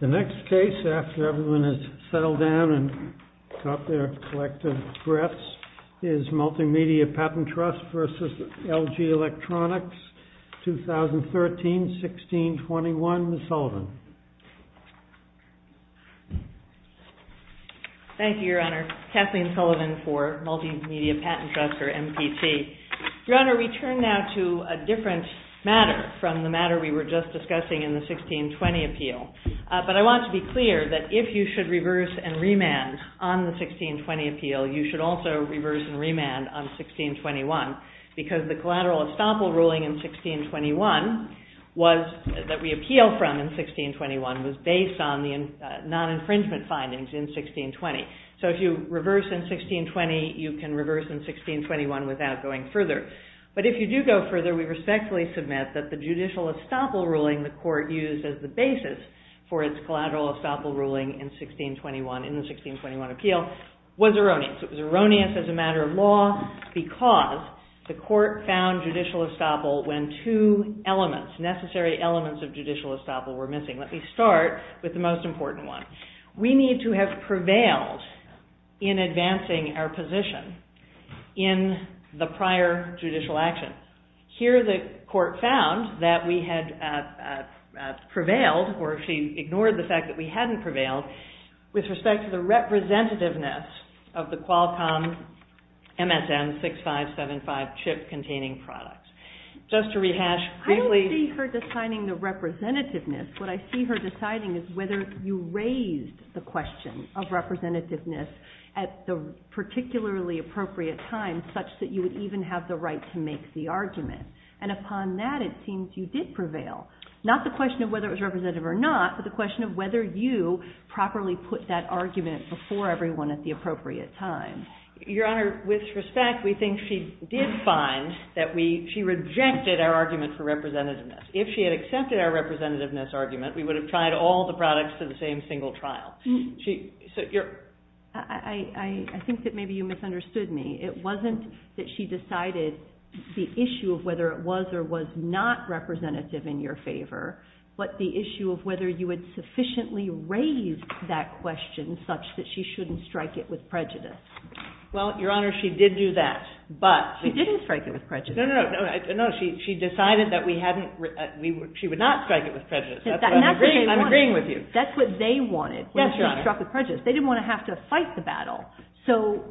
The next case, after everyone has settled down and caught their collective breaths, is Multimedia Patent Trust v. LG Electronics, 2013-16-21, Ms. Sullivan. Thank you, Your Honor. Kathleen Sullivan for Multimedia Patent Trust, or MPT. Your Honor, we turn now to a different matter from the matter we were just discussing in the 16-20 appeal. But I want to be clear that if you should reverse and remand on the 16-20 appeal, you should also reverse and remand on 16-21, because the collateral estoppel ruling in 16-21 that we appealed from in 16-21 was based on the non-infringement findings in 16-20. So if you reverse in 16-20, you can reverse in 16-21 without going further. But if you do go further, we respectfully submit that the judicial estoppel ruling the Court used as the basis for its collateral estoppel ruling in 16-21, in the 16-21 appeal, was erroneous. It was erroneous as a matter of law because the Court found judicial estoppel when two elements, two elements of judicial estoppel were missing. Let me start with the most important one. We need to have prevailed in advancing our position in the prior judicial action. Here the Court found that we had prevailed, or she ignored the fact that we hadn't prevailed, with respect to the representativeness of the Qualcomm MSN6575 chip-containing products. I don't see her deciding the representativeness. What I see her deciding is whether you raised the question of representativeness at the particularly appropriate time such that you would even have the right to make the argument. And upon that, it seems you did prevail. Not the question of whether it was representative or not, but the question of whether you properly put that argument before everyone at the appropriate time. Your Honor, with respect, we think she did find that she rejected our argument for representativeness. If she had accepted our representativeness argument, we would have tried all the products for the same single trial. I think that maybe you misunderstood me. It wasn't that she decided the issue of whether it was or was not representative in your favor, but the issue of whether you had sufficiently raised that question such that she shouldn't strike it with prejudice. Well, Your Honor, she did do that. She didn't strike it with prejudice. No, no, no. She decided that she would not strike it with prejudice. I'm agreeing with you. That's what they wanted. They didn't want to have to fight the battle. So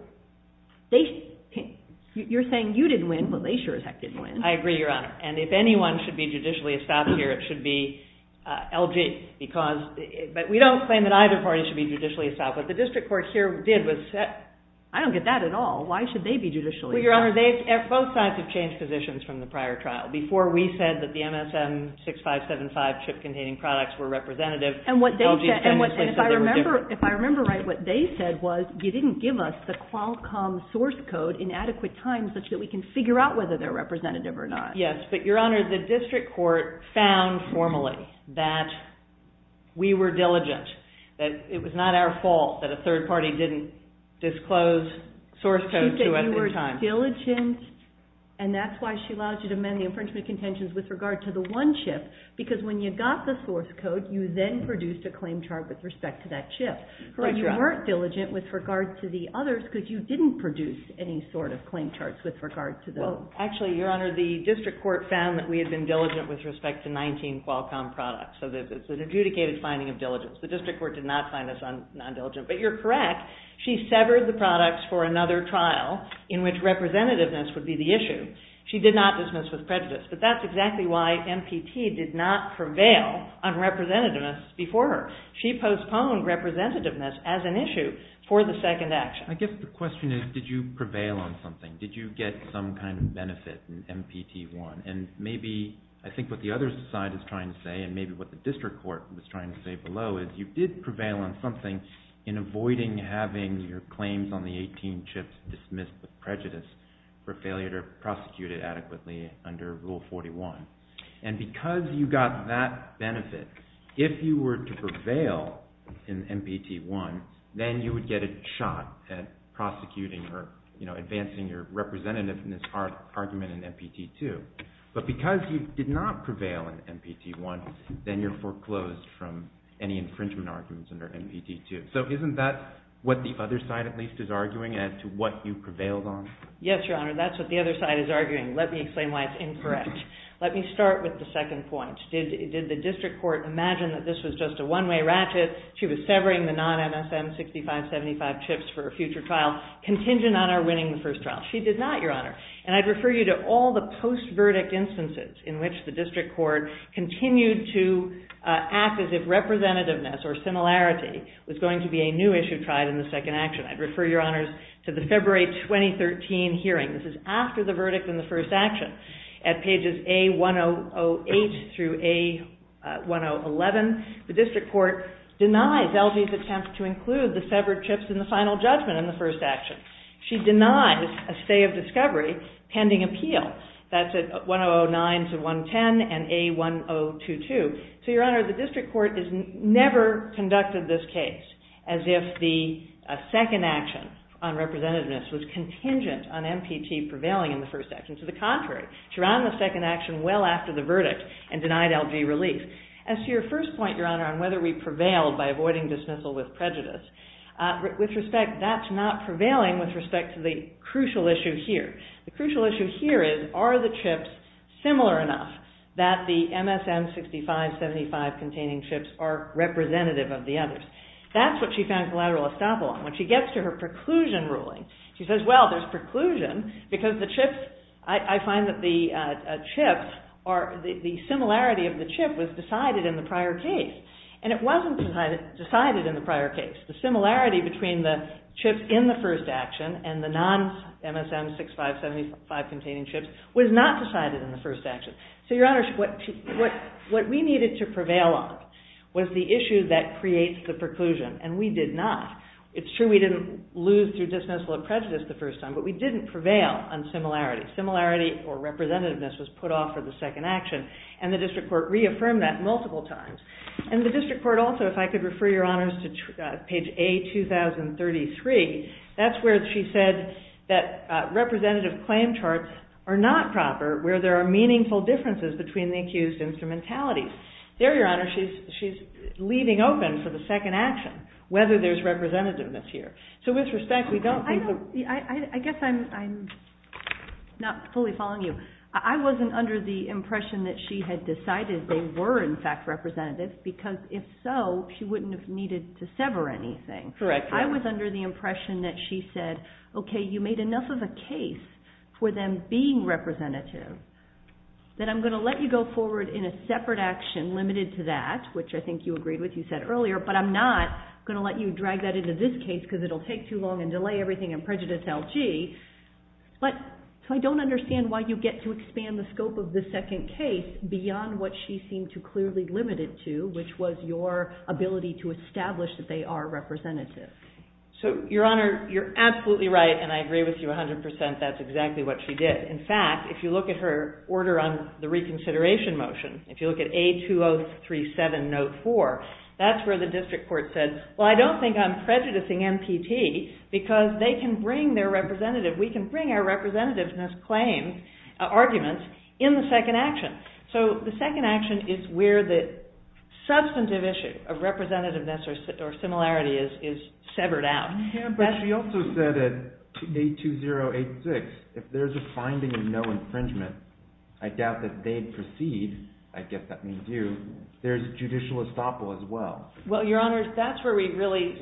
you're saying you didn't win, but they sure as heck didn't win. I agree, Your Honor. And if anyone should be judicially established here, it should be LG. But we don't claim that either party should be judicially established. What the district court here did was set – I don't get that at all. Why should they be judicially established? Well, Your Honor, both sides have changed positions from the prior trial. Before we said that the MSM6575 chip-containing products were representative, LG said they were different. And if I remember right, what they said was you didn't give us the Qualcomm source code in adequate times such that we can figure out whether they're representative or not. Yes, but Your Honor, the district court found formally that we were diligent, that it was not our fault that a third party didn't disclose source codes to us in time. She said you were diligent, and that's why she allowed you to amend the infringement contentions with regard to the one chip, because when you got the source code, you then produced a claim chart with respect to that chip. But you weren't diligent with regard to the others because you didn't produce any sort of claim charts with regard to those. Actually, Your Honor, the district court found that we had been diligent with respect to 19 Qualcomm products. So it's an adjudicated finding of diligence. The district court did not find us non-diligent. But you're correct. She severed the products for another trial in which representativeness would be the issue. She did not dismiss with prejudice. But that's exactly why MPT did not prevail on representativeness before her. She postponed representativeness as an issue for the second action. I guess the question is, did you prevail on something? Did you get some kind of benefit in MPT-1? And maybe I think what the other side is trying to say, and maybe what the district court was trying to say below, is you did prevail on something in avoiding having your claims on the 18 chips dismissed with prejudice for failure to prosecute it adequately under Rule 41. And because you got that benefit, if you were to prevail in MPT-1, then you would get a shot at prosecuting or advancing your representativeness argument in MPT-2. But because you did not prevail in MPT-1, then you're foreclosed from any infringement arguments under MPT-2. So isn't that what the other side at least is arguing as to what you prevailed on? Yes, Your Honor, that's what the other side is arguing. Let me explain why it's incorrect. Let me start with the second point. Did the district court imagine that this was just a one-way ratchet? She was severing the non-MSM 6575 chips for a future trial contingent on her winning the first trial. She did not, Your Honor. And I'd refer you to all the post-verdict instances in which the district court continued to act as if representativeness or similarity was going to be a new issue tried in the second action. I'd refer Your Honors to the February 2013 hearing. This is after the verdict in the first action. At pages A1008 through A1011, the district court denies LG's attempt to include the severed chips in the final judgment in the first action. She denies a stay of discovery pending appeal. That's at 1009 to 110 and A1022. So, Your Honor, the district court has never conducted this case as if the second action on representativeness was contingent on MPT prevailing in the first action. To the contrary, she ran the second action well after the verdict and denied LG relief. As to your first point, Your Honor, on whether we prevailed by avoiding dismissal with prejudice, with respect, that's not prevailing with respect to the crucial issue here. The crucial issue here is, are the chips similar enough that the MSM 6575 containing chips are representative of the others? That's what she found collateral estoppel on. When she gets to her preclusion ruling, she says, well, there's preclusion because the chips, I find that the chips are, the similarity of the chip was decided in the prior case. And it wasn't decided in the prior case. The similarity between the chips in the first action and the non-MSM 6575 containing chips was not decided in the first action. So, Your Honor, what we needed to prevail on was the issue that creates the preclusion, and we did not. It's true we didn't lose through dismissal of prejudice the first time, but we didn't prevail on similarity. Similarity or representativeness was put off for the second action, and the district court reaffirmed that multiple times. And the district court also, if I could refer Your Honors to page A2033, that's where she said that representative claim charts are not proper, where there are meaningful differences between the accused instrumentalities. There, Your Honor, she's leaving open for the second action whether there's representativeness here. So, with respect, we don't think that… See, I guess I'm not fully following you. I wasn't under the impression that she had decided they were, in fact, representative, because if so, she wouldn't have needed to sever anything. Correct. I was under the impression that she said, okay, you made enough of a case for them being representative that I'm going to let you go forward in a separate action limited to that, which I think you agreed with, you said earlier, but I'm not going to let you drag that into this case because it will take too long and delay everything and prejudice LG. So, I don't understand why you get to expand the scope of the second case beyond what she seemed to clearly limit it to, which was your ability to establish that they are representative. So, Your Honor, you're absolutely right, and I agree with you 100%. That's exactly what she did. In fact, if you look at her order on the reconsideration motion, if you look at A203704, that's where the district court said, well, I don't think I'm prejudicing MPT because they can bring their representative, we can bring our representativeness claim arguments in the second action. So, the second action is where the substantive issue of representativeness or similarity is severed out. Yeah, but she also said at A2086, if there's a finding of no infringement, I doubt that they'd proceed. I guess that means you. There's judicial estoppel as well. Well, Your Honor, that's where we really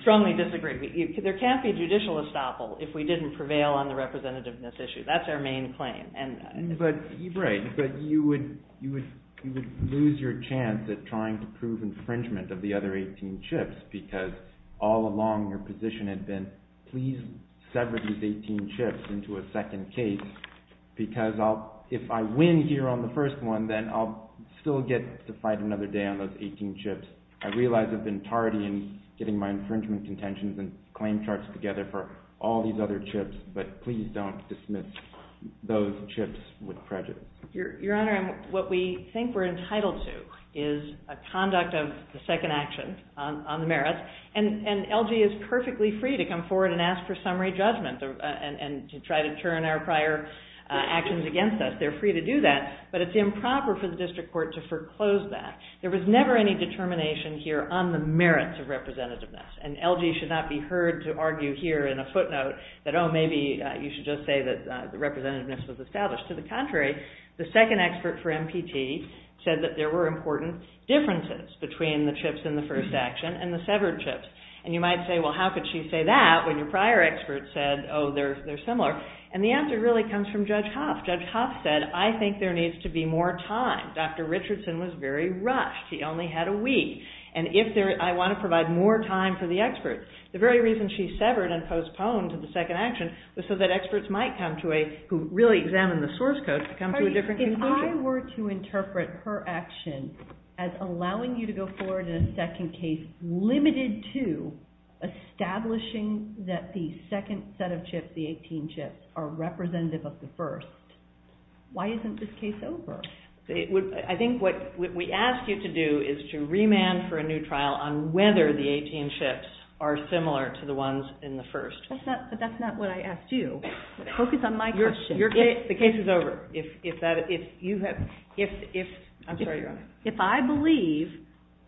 strongly disagree. There can't be judicial estoppel if we didn't prevail on the representativeness issue. That's our main claim. Right, but you would lose your chance at trying to prove infringement of the other 18 chips because all along your position had been, please sever these 18 chips into a second case because if I win here on the first one, then I'll still get to fight another day on those 18 chips. I realize I've been tardy in getting my infringement contentions and claim charts together for all these other chips, but please don't dismiss those chips with prejudice. Your Honor, what we think we're entitled to is a conduct of the second action on the merits, and LG is perfectly free to come forward and ask for summary judgment and to try to turn our prior actions against us. They're free to do that, but it's improper for the district court to foreclose that. There was never any determination here on the merits of representativeness, and LG should not be heard to argue here in a footnote that, oh, maybe you should just say that representativeness was established. To the contrary, the second expert for MPT said that there were important differences between the chips in the first action and the severed chips, and you might say, well, how could she say that when your prior expert said, oh, they're similar, and the answer really comes from Judge Hoff. Judge Hoff said, I think there needs to be more time. Dr. Richardson was very rushed. He only had a week, and if I want to provide more time for the expert, the very reason she severed and postponed the second action was so that experts might come to a, who really examine the source code, to come to a different conclusion. If I were to interpret her action as allowing you to go forward in a second case limited to establishing that the second set of chips, the 18 chips, are representative of the first, why isn't this case over? I think what we ask you to do is to remand for a new trial on whether the 18 chips are similar to the ones in the first. But that's not what I asked you. Focus on my question. The case is over. I'm sorry, Your Honor. If I believe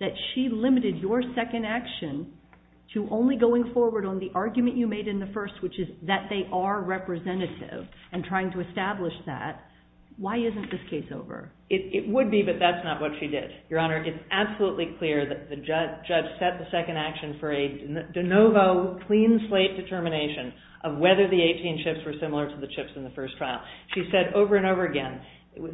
that she limited your second action to only going forward on the argument you made in the first, which is that they are representative, and trying to establish that, why isn't this case over? It would be, but that's not what she did. Your Honor, it's absolutely clear that the judge set the second action for a de novo, clean slate determination of whether the 18 chips were similar to the chips in the first trial. She said over and over again,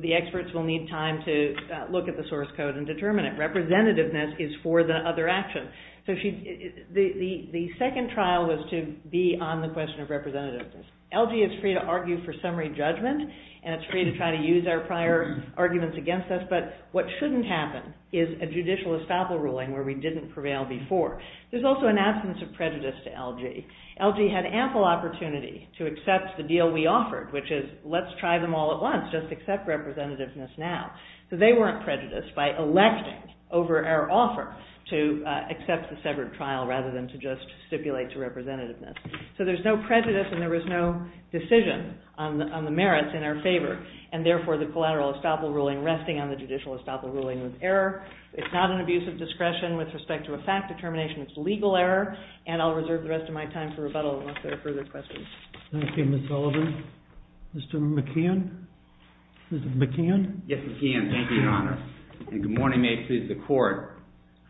the experts will need time to look at the source code and determine it. Representativeness is for the other action. The second trial was to be on the question of representativeness. LG is free to argue for summary judgment, and it's free to try to use our prior arguments against us, but what shouldn't happen is a judicial estoppel ruling where we didn't prevail before. There's also an absence of prejudice to LG. LG had ample opportunity to accept the deal we offered, which is let's try them all at once, just accept representativeness now. So they weren't prejudiced by electing over our offer to accept the separate trial rather than to just stipulate to representativeness. So there's no prejudice, and there was no decision on the merits in our favor, and therefore the collateral estoppel ruling resting on the judicial estoppel ruling with error. It's not an abuse of discretion with respect to a fact determination. It's legal error, and I'll reserve the rest of my time for rebuttal unless there are further questions. Thank you, Ms. Sullivan. Mr. McCann? Yes, Mr. McCann. Thank you, Your Honor, and good morning. May it please the Court.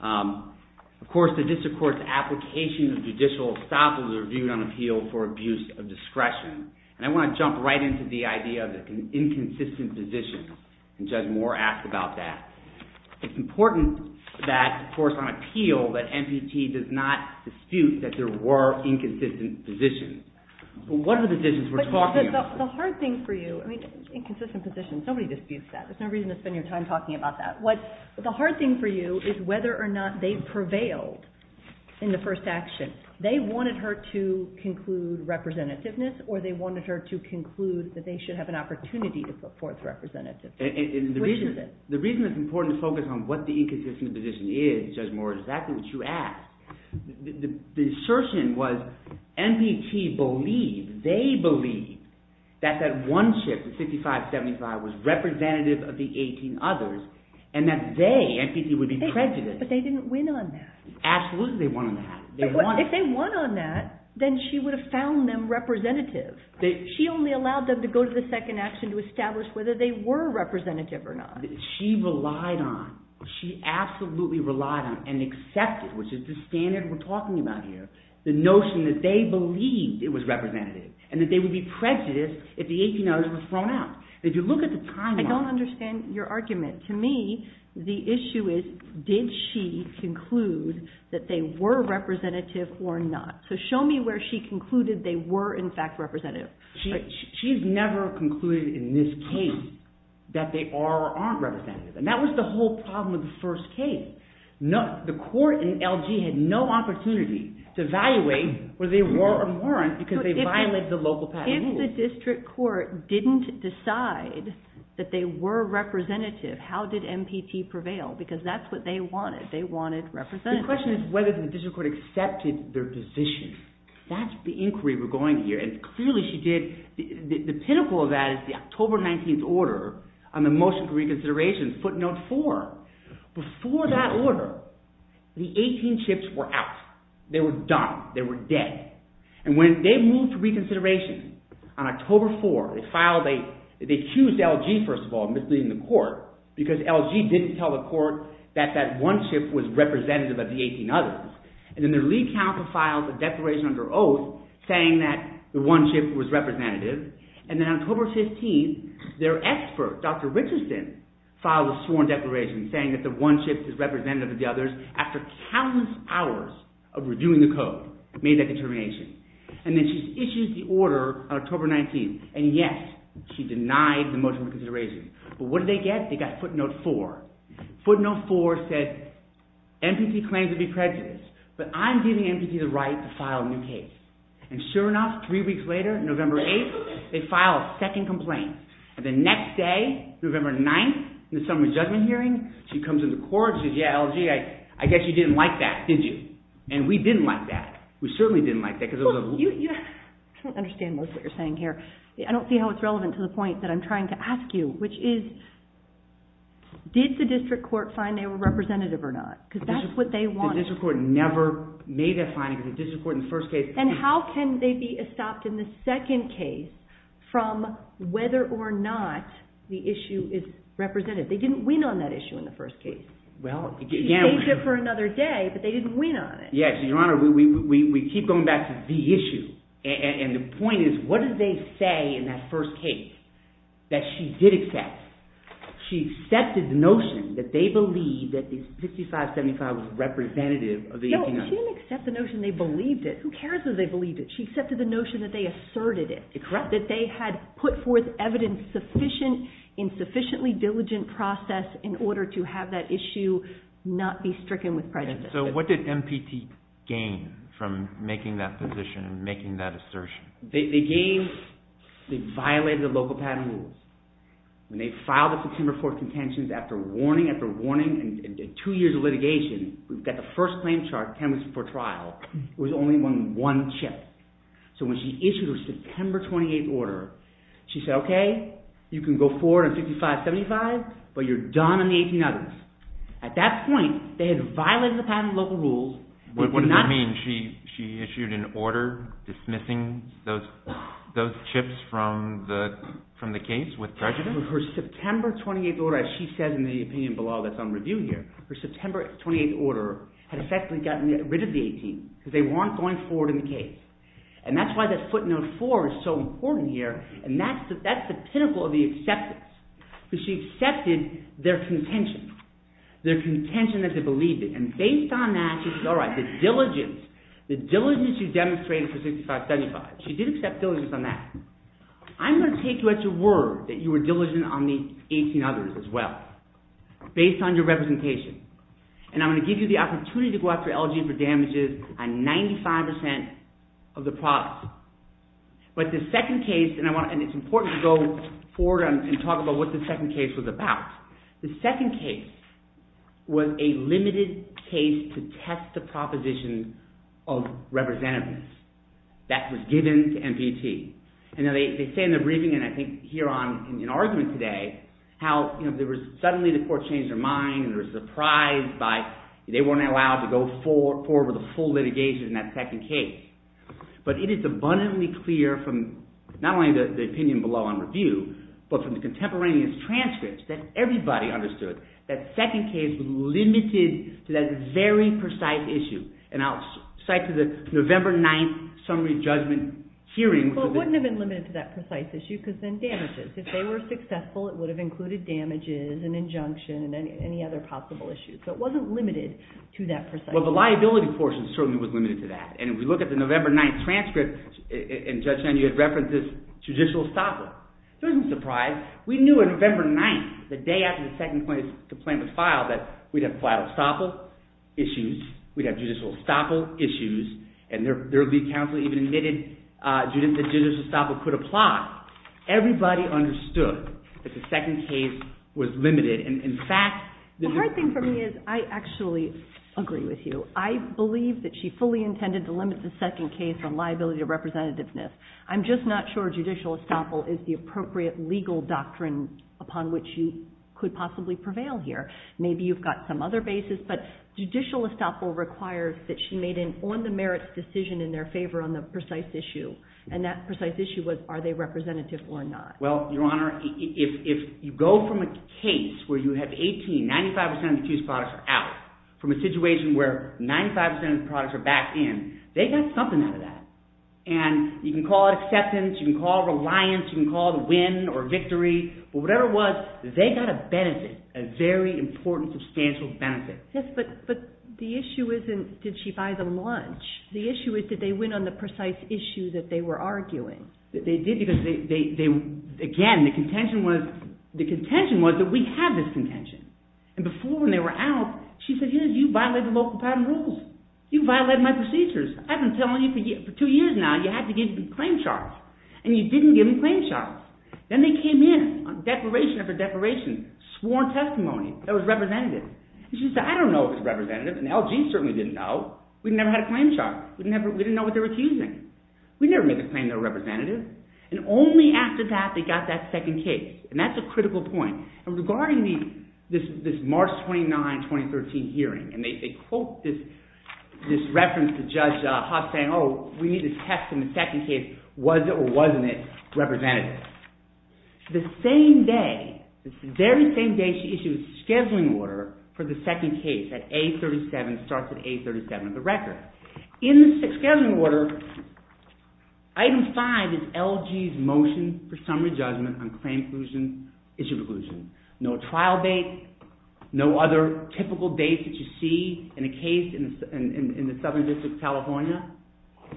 Of course, the district court's application of judicial estoppel is reviewed on appeal for abuse of discretion, and I want to jump right into the idea of an inconsistent position, and Judge Moore asked about that. It's important that, of course, on appeal that MPT does not dispute that there were inconsistent positions. But what are the positions we're talking about? The hard thing for you, I mean inconsistent positions, nobody disputes that. There's no reason to spend your time talking about that. The hard thing for you is whether or not they prevailed in the first action. They wanted her to conclude representativeness or they wanted her to conclude that they should have an opportunity to support the representative. The reason it's important to focus on what the inconsistent position is, Judge Moore, is exactly what you asked. The assertion was MPT believed, they believed, that that one shift, the 55-75, was representative of the 18 others and that they, MPT, would be prejudiced. But they didn't win on that. Absolutely they won on that. If they won on that, then she would have found them representative. She only allowed them to go to the second action to establish whether they were representative or not. She relied on, she absolutely relied on and accepted, which is the standard we're talking about here, the notion that they believed it was representative and that they would be prejudiced if the 18 others were thrown out. If you look at the timeline... I don't understand your argument. To me, the issue is, did she conclude that they were representative or not? So show me where she concluded they were, in fact, representative. She's never concluded in this case that they are or aren't representative. And that was the whole problem with the first case. The court in LG had no opportunity to evaluate whether they were or weren't because they violated the local patent rules. If the district court didn't decide that they were representative, how did MPT prevail? Because that's what they wanted. They wanted representatives. The question is whether the district court accepted their decision. That's the inquiry we're going to hear. And clearly she did. The pinnacle of that is the October 19th order on the motion for reconsideration, footnote 4. Before that order, the 18 chips were out. They were done. They were dead. And when they moved to reconsideration on October 4, they accused LG, first of all, of misleading the court because LG didn't tell the court that that one chip was representative of the 18 others. And then their lead counsel filed a declaration under oath saying that the one chip was representative. And then on October 15, their expert, Dr. Richardson, filed a sworn declaration saying that the one chip is representative of the others after countless hours of redoing the code, made that determination. And then she issues the order on October 19th. And yes, she denied the motion for reconsideration. But what did they get? They got footnote 4. Footnote 4 said MPT claims to be prejudiced, but I'm giving MPT the right to file a new case. And sure enough, three weeks later, November 8th, they filed a second complaint. And the next day, November 9th, in the summary judgment hearing, she comes into court and says, Yeah, LG, I guess you didn't like that, did you? And we didn't like that. We certainly didn't like that. I don't understand most of what you're saying here. I don't see how it's relevant to the point that I'm trying to ask you, which is did the district court find they were representative or not? Because that's what they wanted. The district court never made that finding because the district court in the first case from whether or not the issue is represented. They didn't win on that issue in the first case. She saved it for another day, but they didn't win on it. Yes. Your Honor, we keep going back to the issue. And the point is, what did they say in that first case that she did accept? She accepted the notion that they believed that the 5575 was representative of the 1890s. No, she didn't accept the notion they believed it. Who cares that they believed it? She accepted the notion that they asserted it. Correct. That they had put forth evidence in sufficiently diligent process in order to have that issue not be stricken with prejudice. So what did MPT gain from making that position and making that assertion? They violated the local patent rules. When they filed the September 4th contentions, after warning after warning and two years of litigation, we've got the first claim chart, 10 weeks before trial, there was only one chip. So when she issued her September 28th order, she said, okay, you can go forward on 5575, but you're done on the 1890s. At that point, they had violated the patent local rules. What does that mean? She issued an order dismissing those chips from the case with prejudice? Her September 28th order, as she said in the opinion below that's on review here, her September 28th order had effectively gotten rid of the 18 because they weren't going forward in the case. And that's why that footnote 4 is so important here, and that's the pinnacle of the acceptance, because she accepted their contention, their contention that they believed in. And based on that, she said, all right, the diligence, the diligence you demonstrated for 6575, she did accept diligence on that. I'm going to take you at your word that you were diligent on the 18 others as well, based on your representation, and I'm going to give you the opportunity to go after LG for damages on 95% of the profits. But the second case, and it's important to go forward and talk about what the second case was about. The second case was a limited case to test the proposition of representativeness that was given to NPT. And they say in the briefing, and I think here in argument today, how suddenly the court changed their mind, they were surprised by they weren't allowed to go forward with a full litigation in that second case. But it is abundantly clear from not only the opinion below on review, but from the contemporaneous transcripts that everybody understood that the second case was limited to that very precise issue. And I'll cite to the November 9th summary judgment hearing. Well, it wouldn't have been limited to that precise issue because then damages. If they were successful, it would have included damages and injunction and any other possible issues. So it wasn't limited to that precise issue. Well, the liability portion certainly was limited to that. And if you look at the November 9th transcript, in Judge Henry you had references to judicial estoppel. It doesn't surprise. We knew on November 9th, the day after the second complaint was filed, that we'd have collateral estoppel issues. We'd have judicial estoppel issues. And their lead counsel even admitted that judicial estoppel could apply. Everybody understood that the second case was limited. In fact, the hard thing for me is I actually agree with you. I believe that she fully intended to limit the second case on liability of representativeness. I'm just not sure judicial estoppel is the appropriate legal doctrine upon which you could possibly prevail here. Maybe you've got some other basis. But judicial estoppel requires that she made an on-the-merits decision in their favor on the precise issue. And that precise issue was are they representative or not. Well, Your Honor, if you go from a case where you have 18, 95% of the accused products are out, from a situation where 95% of the products are back in, they got something out of that. And you can call it acceptance. You can call it reliance. You can call it a win or victory. But whatever it was, they got a benefit, a very important substantial benefit. Yes, but the issue isn't did she buy them lunch. The issue is did they win on the precise issue that they were arguing. They did because, again, the contention was that we had this contention. And before when they were out, she said, here, you violated local patent rules. You violated my procedures. I've been telling you for two years now you have to give me claim charge. And you didn't give me claim charge. Then they came in, declaration after declaration, sworn testimony that was representative. And she said, I don't know if it was representative, and the LG certainly didn't know. We never had a claim charge. We didn't know what they were accusing. We never make a claim they're representative. And only after that they got that second case. And that's a critical point. And regarding this March 29, 2013 hearing, and they quote this reference to Judge Haas saying, oh, we need to test in the second case was it or wasn't it representative. The same day, the very same day she issued a scheduling order for the second case at A37, starts at A37 of the record. In the scheduling order, item five is LG's motion for summary judgment on claim inclusion, issue inclusion. No trial date, no other typical date that you see in a case in the Southern District of California.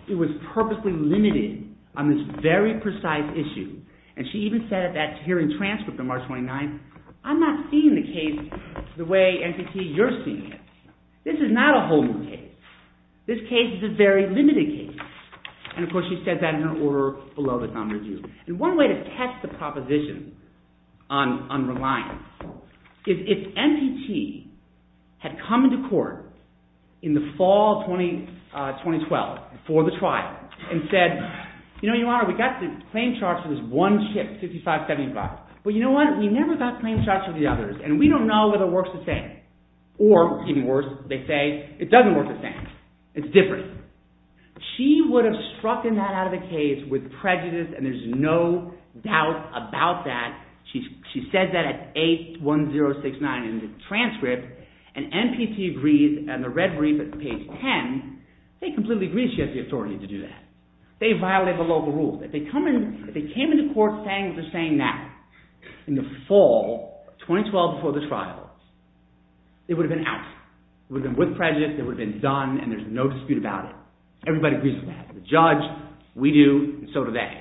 It was purposely limited on this very precise issue. And she even said at that hearing transcript on March 29, I'm not seeing the case the way NPT, you're seeing it. This is not a whole new case. This case is a very limited case. And, of course, she said that in her order below the thumb review. And one way to test the proposition on reliance is if NPT had come into court in the fall of 2012 for the trial and said, you know, Your Honor, we got the claim charge for this one chip, 5575. Well, you know what? We never got claim charge for the others. And we don't know whether it works the same. Or, even worse, they say it doesn't work the same. It's different. She would have struck that out of the case with prejudice and there's no doubt about that. She said that at A1069 in the transcript. And NPT agrees, and the Red Marine, page 10, they completely agree she has the authority to do that. They violated the local rules. If they came into court saying what they're saying now, in the fall, 2012 before the trial, it would have been out. It would have been with prejudice, it would have been done, and there's no dispute about it. Everybody agrees with that. The judge, we do, and so do they.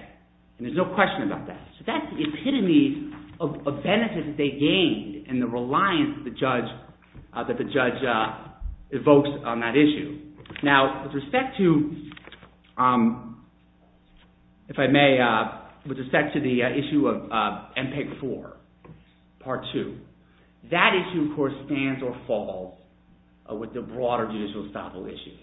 And there's no question about that. So that's the epitome of benefit that they gained and the reliance that the judge evokes on that issue. Now, with respect to, if I may, with respect to the issue of MPEG-4 Part 2, that issue, of course, stands or falls with the broader judicial establishment.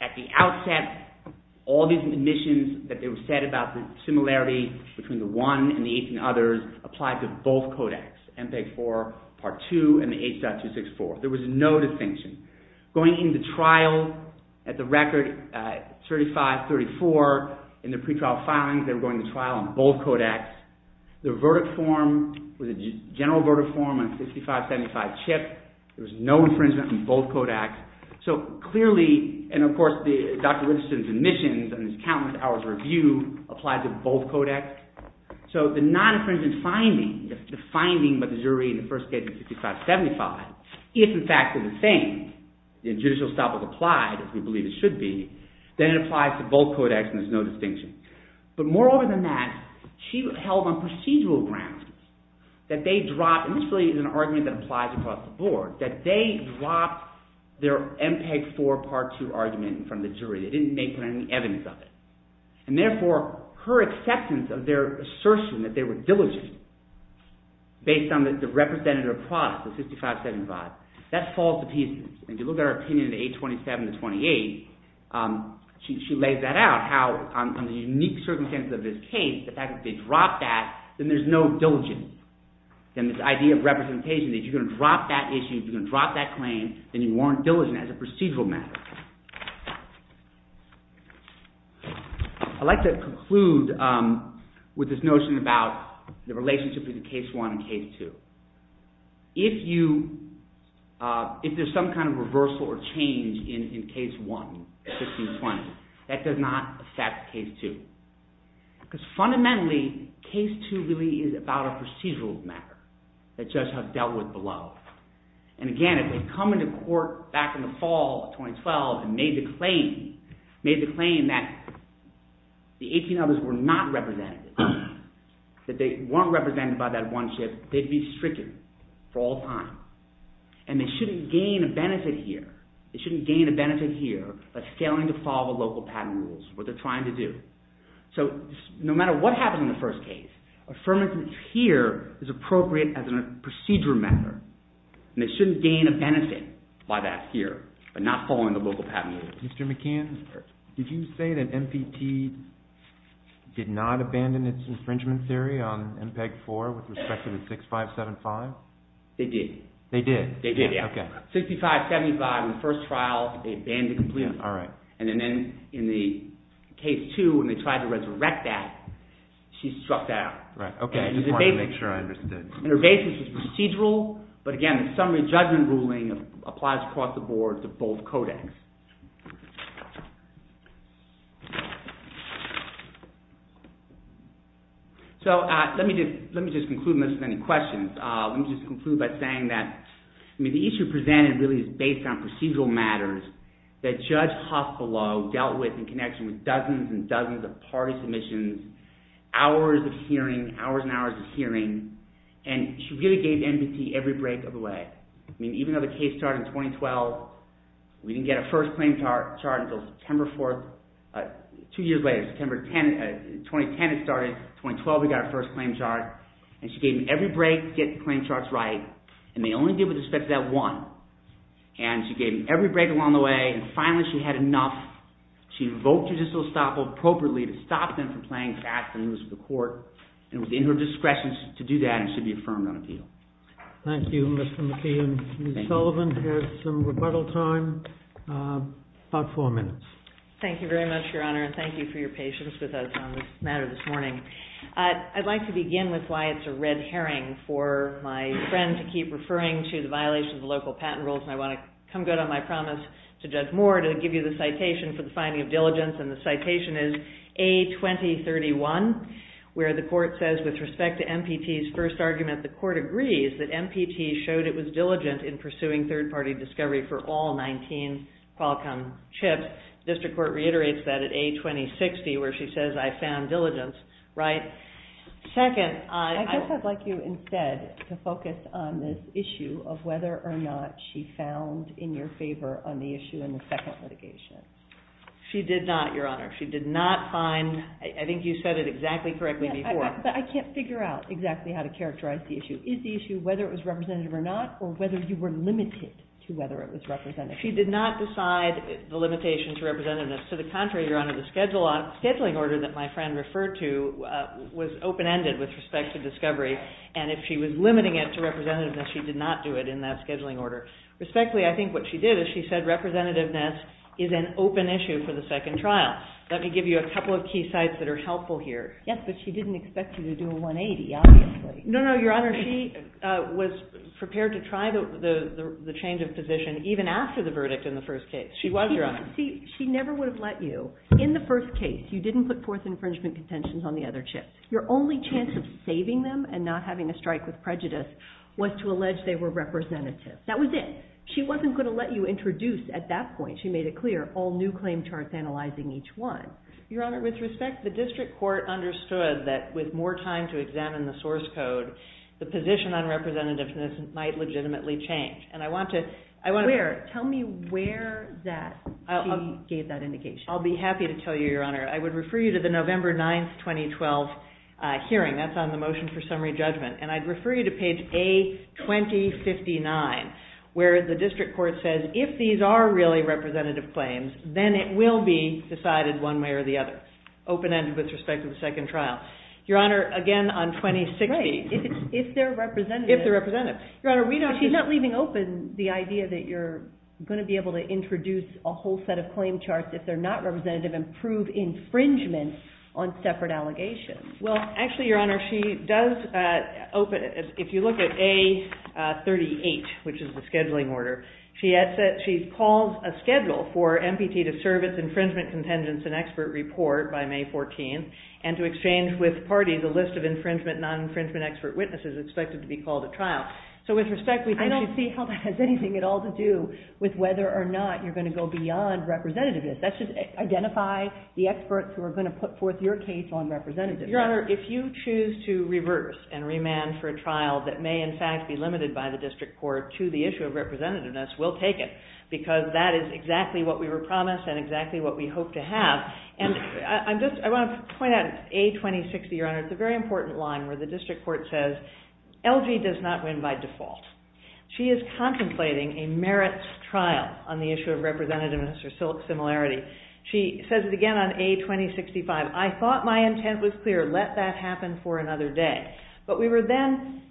At the outset, all these admissions that were said about the similarity between the 1 and the 18 others applied to both codex, MPEG-4 Part 2 and the H.264. There was no distinction. Going into trial, at the record, 35-34, in the pretrial filings, they were going to trial on both codex. The verdict form was a general verdict form on 65-75 chip. There was no infringement on both codex. So clearly, and of course, Dr. Richardson's admissions and his countless hours of review applied to both codex. So the non-infringement finding, the finding by the jury in the first case of 65-75, if, in fact, they're the same, the judicial establishment applied, as we believe it should be, then it applies to both codex and there's no distinction. But moreover than that, she held on procedural grounds that they dropped, and this really is an argument that applies across the board, that they dropped their MPEG-4 Part 2 argument in front of the jury. They didn't make any evidence of it. And therefore, her acceptance of their assertion that they were diligent, based on the representative product of 65-75, that falls to pieces. And if you look at her opinion in 827-28, she lays that out, how on the unique circumstances of this case, the fact that they dropped that, then there's no diligence. Then this idea of representation, that if you're going to drop that issue, if you're going to drop that claim, then you weren't diligent as a procedural matter. I'd like to conclude with this notion about the relationship between Case 1 and Case 2. If there's some kind of reversal or change in Case 1, 16-20, that does not affect Case 2. Because fundamentally, Case 2 really is about a procedural matter that judges have dealt with below. And again, if they come into court back in the fall of 2012 and made the claim that the 18 others were not representative, that they weren't represented by that one shift, they'd be stricken for all time. And they shouldn't gain a benefit here. They shouldn't gain a benefit here by failing to follow the local patent rules, what they're trying to do. So no matter what happens in the first case, affirmative here is appropriate as a procedural matter. And they shouldn't gain a benefit by that here, by not following the local patent rules. Mr. McKeon, did you say that MPT did not abandon its infringement theory on MPEG-4 with respect to the 6575? They did. They did? They did, yeah. 6575 in the first trial, they abandoned it completely. And then in Case 2, when they tried to resurrect that, she struck that out. Right, okay. I just wanted to make sure I understood. And her basis was procedural, but again, the summary judgment ruling applies across the board to both codex. Okay. So let me just conclude, unless there's any questions. Let me just conclude by saying that the issue presented really is based on procedural matters that Judge Huff below dealt with in connection with dozens and dozens of party submissions, hours of hearing, hours and hours of hearing, and she really gave MPT every break of the way. I mean, even though the case started in 2012, we didn't get a first claim chart until September 4th. Two years later, September 10th, 2010, it started. 2012, we got our first claim chart. And she gave them every break to get the claim charts right, and they only did with respect to that one. And she gave them every break along the way, and finally she had enough. She invoked judicial estoppel appropriately to stop them from playing fast and losing the court, and it was in her discretion to do that, and it should be affirmed on appeal. Thank you, Mr. McKeon. Ms. Sullivan has some rebuttal time, about four minutes. Thank you very much, Your Honor, and thank you for your patience with us on this matter this morning. I'd like to begin with why it's a red herring for my friend to keep referring to the violation of the local patent rules, and I want to come good on my promise to Judge Moore to give you the citation for the finding of diligence, and the citation is A2031, where the court says, with respect to MPT's first argument, the court agrees that MPT showed it was diligent in pursuing third-party discovery for all 19 Qualcomm chips. District Court reiterates that at A2060, where she says, I found diligence, right? Second, I... I guess I'd like you instead to focus on this issue of whether or not she found in your favor on the issue in the second litigation. She did not, Your Honor. She did not find... I think you said it exactly correctly before. But I can't figure out exactly how to characterize the issue. Is the issue whether it was representative or not, or whether you were limited to whether it was representative? She did not decide the limitation to representativeness. To the contrary, Your Honor, the scheduling order that my friend referred to was open-ended with respect to discovery, and if she was limiting it to representativeness, she did not do it in that scheduling order. Respectfully, I think what she did is she said representativeness is an open issue for the second trial. Let me give you a couple of key sites that are helpful here. Yes, but she didn't expect you to do a 180, obviously. No, no, Your Honor. She was prepared to try the change of position even after the verdict in the first case. She was, Your Honor. See, she never would have let you. In the first case, you didn't put fourth infringement contentions on the other chips. Your only chance of saving them and not having a strike with prejudice was to allege they were representative. That was it. She wasn't going to let you introduce, at that point, she made it clear, all new claim charts analyzing each one. Your Honor, with respect, the district court understood that with more time to examine the source code, the position on representativeness might legitimately change. And I want to... Where? Tell me where that she gave that indication. I'll be happy to tell you, Your Honor. I would refer you to the November 9, 2012 hearing. That's on the motion for summary judgment. And I'd refer you to page A2059, where the district court says if these are really representative claims, then it will be decided one way or the other. Open-ended with respect to the second trial. Your Honor, again, on 2060... Right. If they're representative... If they're representative. Your Honor, we know... She's not leaving open the idea that you're going to be able to introduce a whole set of claim charts if they're not representative and prove infringement on separate allegations. Well, actually, Your Honor, she does open... If you look at A38, which is the scheduling order, she calls a schedule for MPT to serve its infringement contingents and expert report by May 14th and to exchange with parties a list of infringement, non-infringement expert witnesses expected to be called at trial. So with respect... I don't see how that has anything at all to do with whether or not you're going to go beyond representativeness. That should identify the experts who are going to put forth your case on representativeness. Your Honor, if you choose to reverse and remand for a trial that may, in fact, be limited by the district court to the issue of representativeness, we'll take it. Because that is exactly what we were promised and exactly what we hope to have. And I want to point out A2060, Your Honor. It's a very important line where the district court says, LG does not win by default. She is contemplating a merits trial on the issue of representativeness or similarity. She says it again on A2065. I thought my intent was clear. Let that happen for another day. But we were then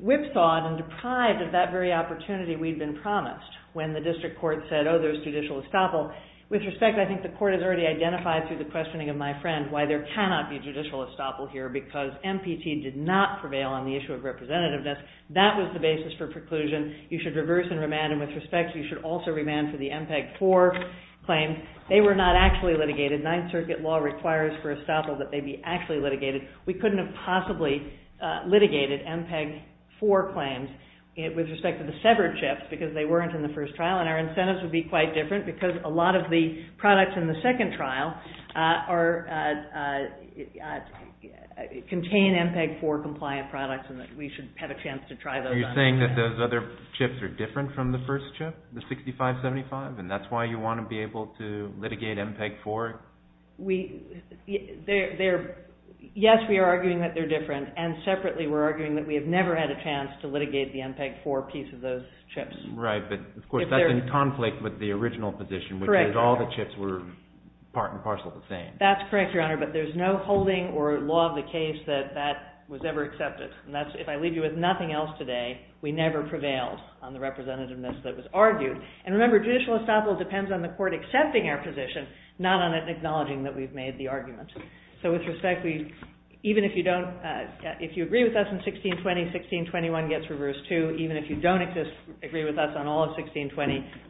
whipsawed and deprived of that very opportunity we'd been promised. When the district court said, oh, there's judicial estoppel. With respect, I think the court has already identified through the questioning of my friend why there cannot be judicial estoppel here. Because MPT did not prevail on the issue of representativeness. That was the basis for preclusion. You should reverse and remand. And with respect, you should also remand for the MPEG-4 claim. They were not actually litigated. Ninth Circuit law requires for estoppel that they be actually litigated. We couldn't have possibly litigated MPEG-4 claims with respect to the severed chips because they weren't in the first trial. And our incentives would be quite different because a lot of the products in the second trial contain MPEG-4-compliant products and that we should have a chance to try those on. You're saying that those other chips are different from the first chip, the 6575? And that's why you want to be able to litigate MPEG-4? Yes, we are arguing that they're different. And separately, we're arguing that we have never had a chance to litigate the MPEG-4 piece of those chips. Right, but of course that's in conflict with the original position, which is all the chips were part and parcel the same. That's correct, Your Honor, but there's no holding or law of the case that that was ever accepted. And if I leave you with nothing else today, we never prevailed on the representativeness that was argued. And remember, judicial estoppel depends on the court accepting our position, not on it acknowledging that we've made the argument. So with respect, even if you agree with us on 1620, 1621 gets reversed too. Even if you don't agree with us on all of 1620,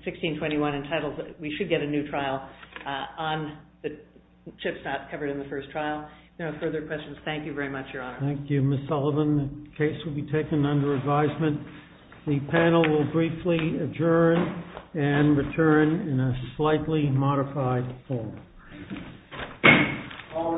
1621 entitles that we should get a new trial on the chips not covered in the first trial. No further questions. Thank you very much, Your Honor. Thank you, Ms. Sullivan. The case will be taken under advisement. The panel will briefly adjourn and return in a slightly modified form. All rise.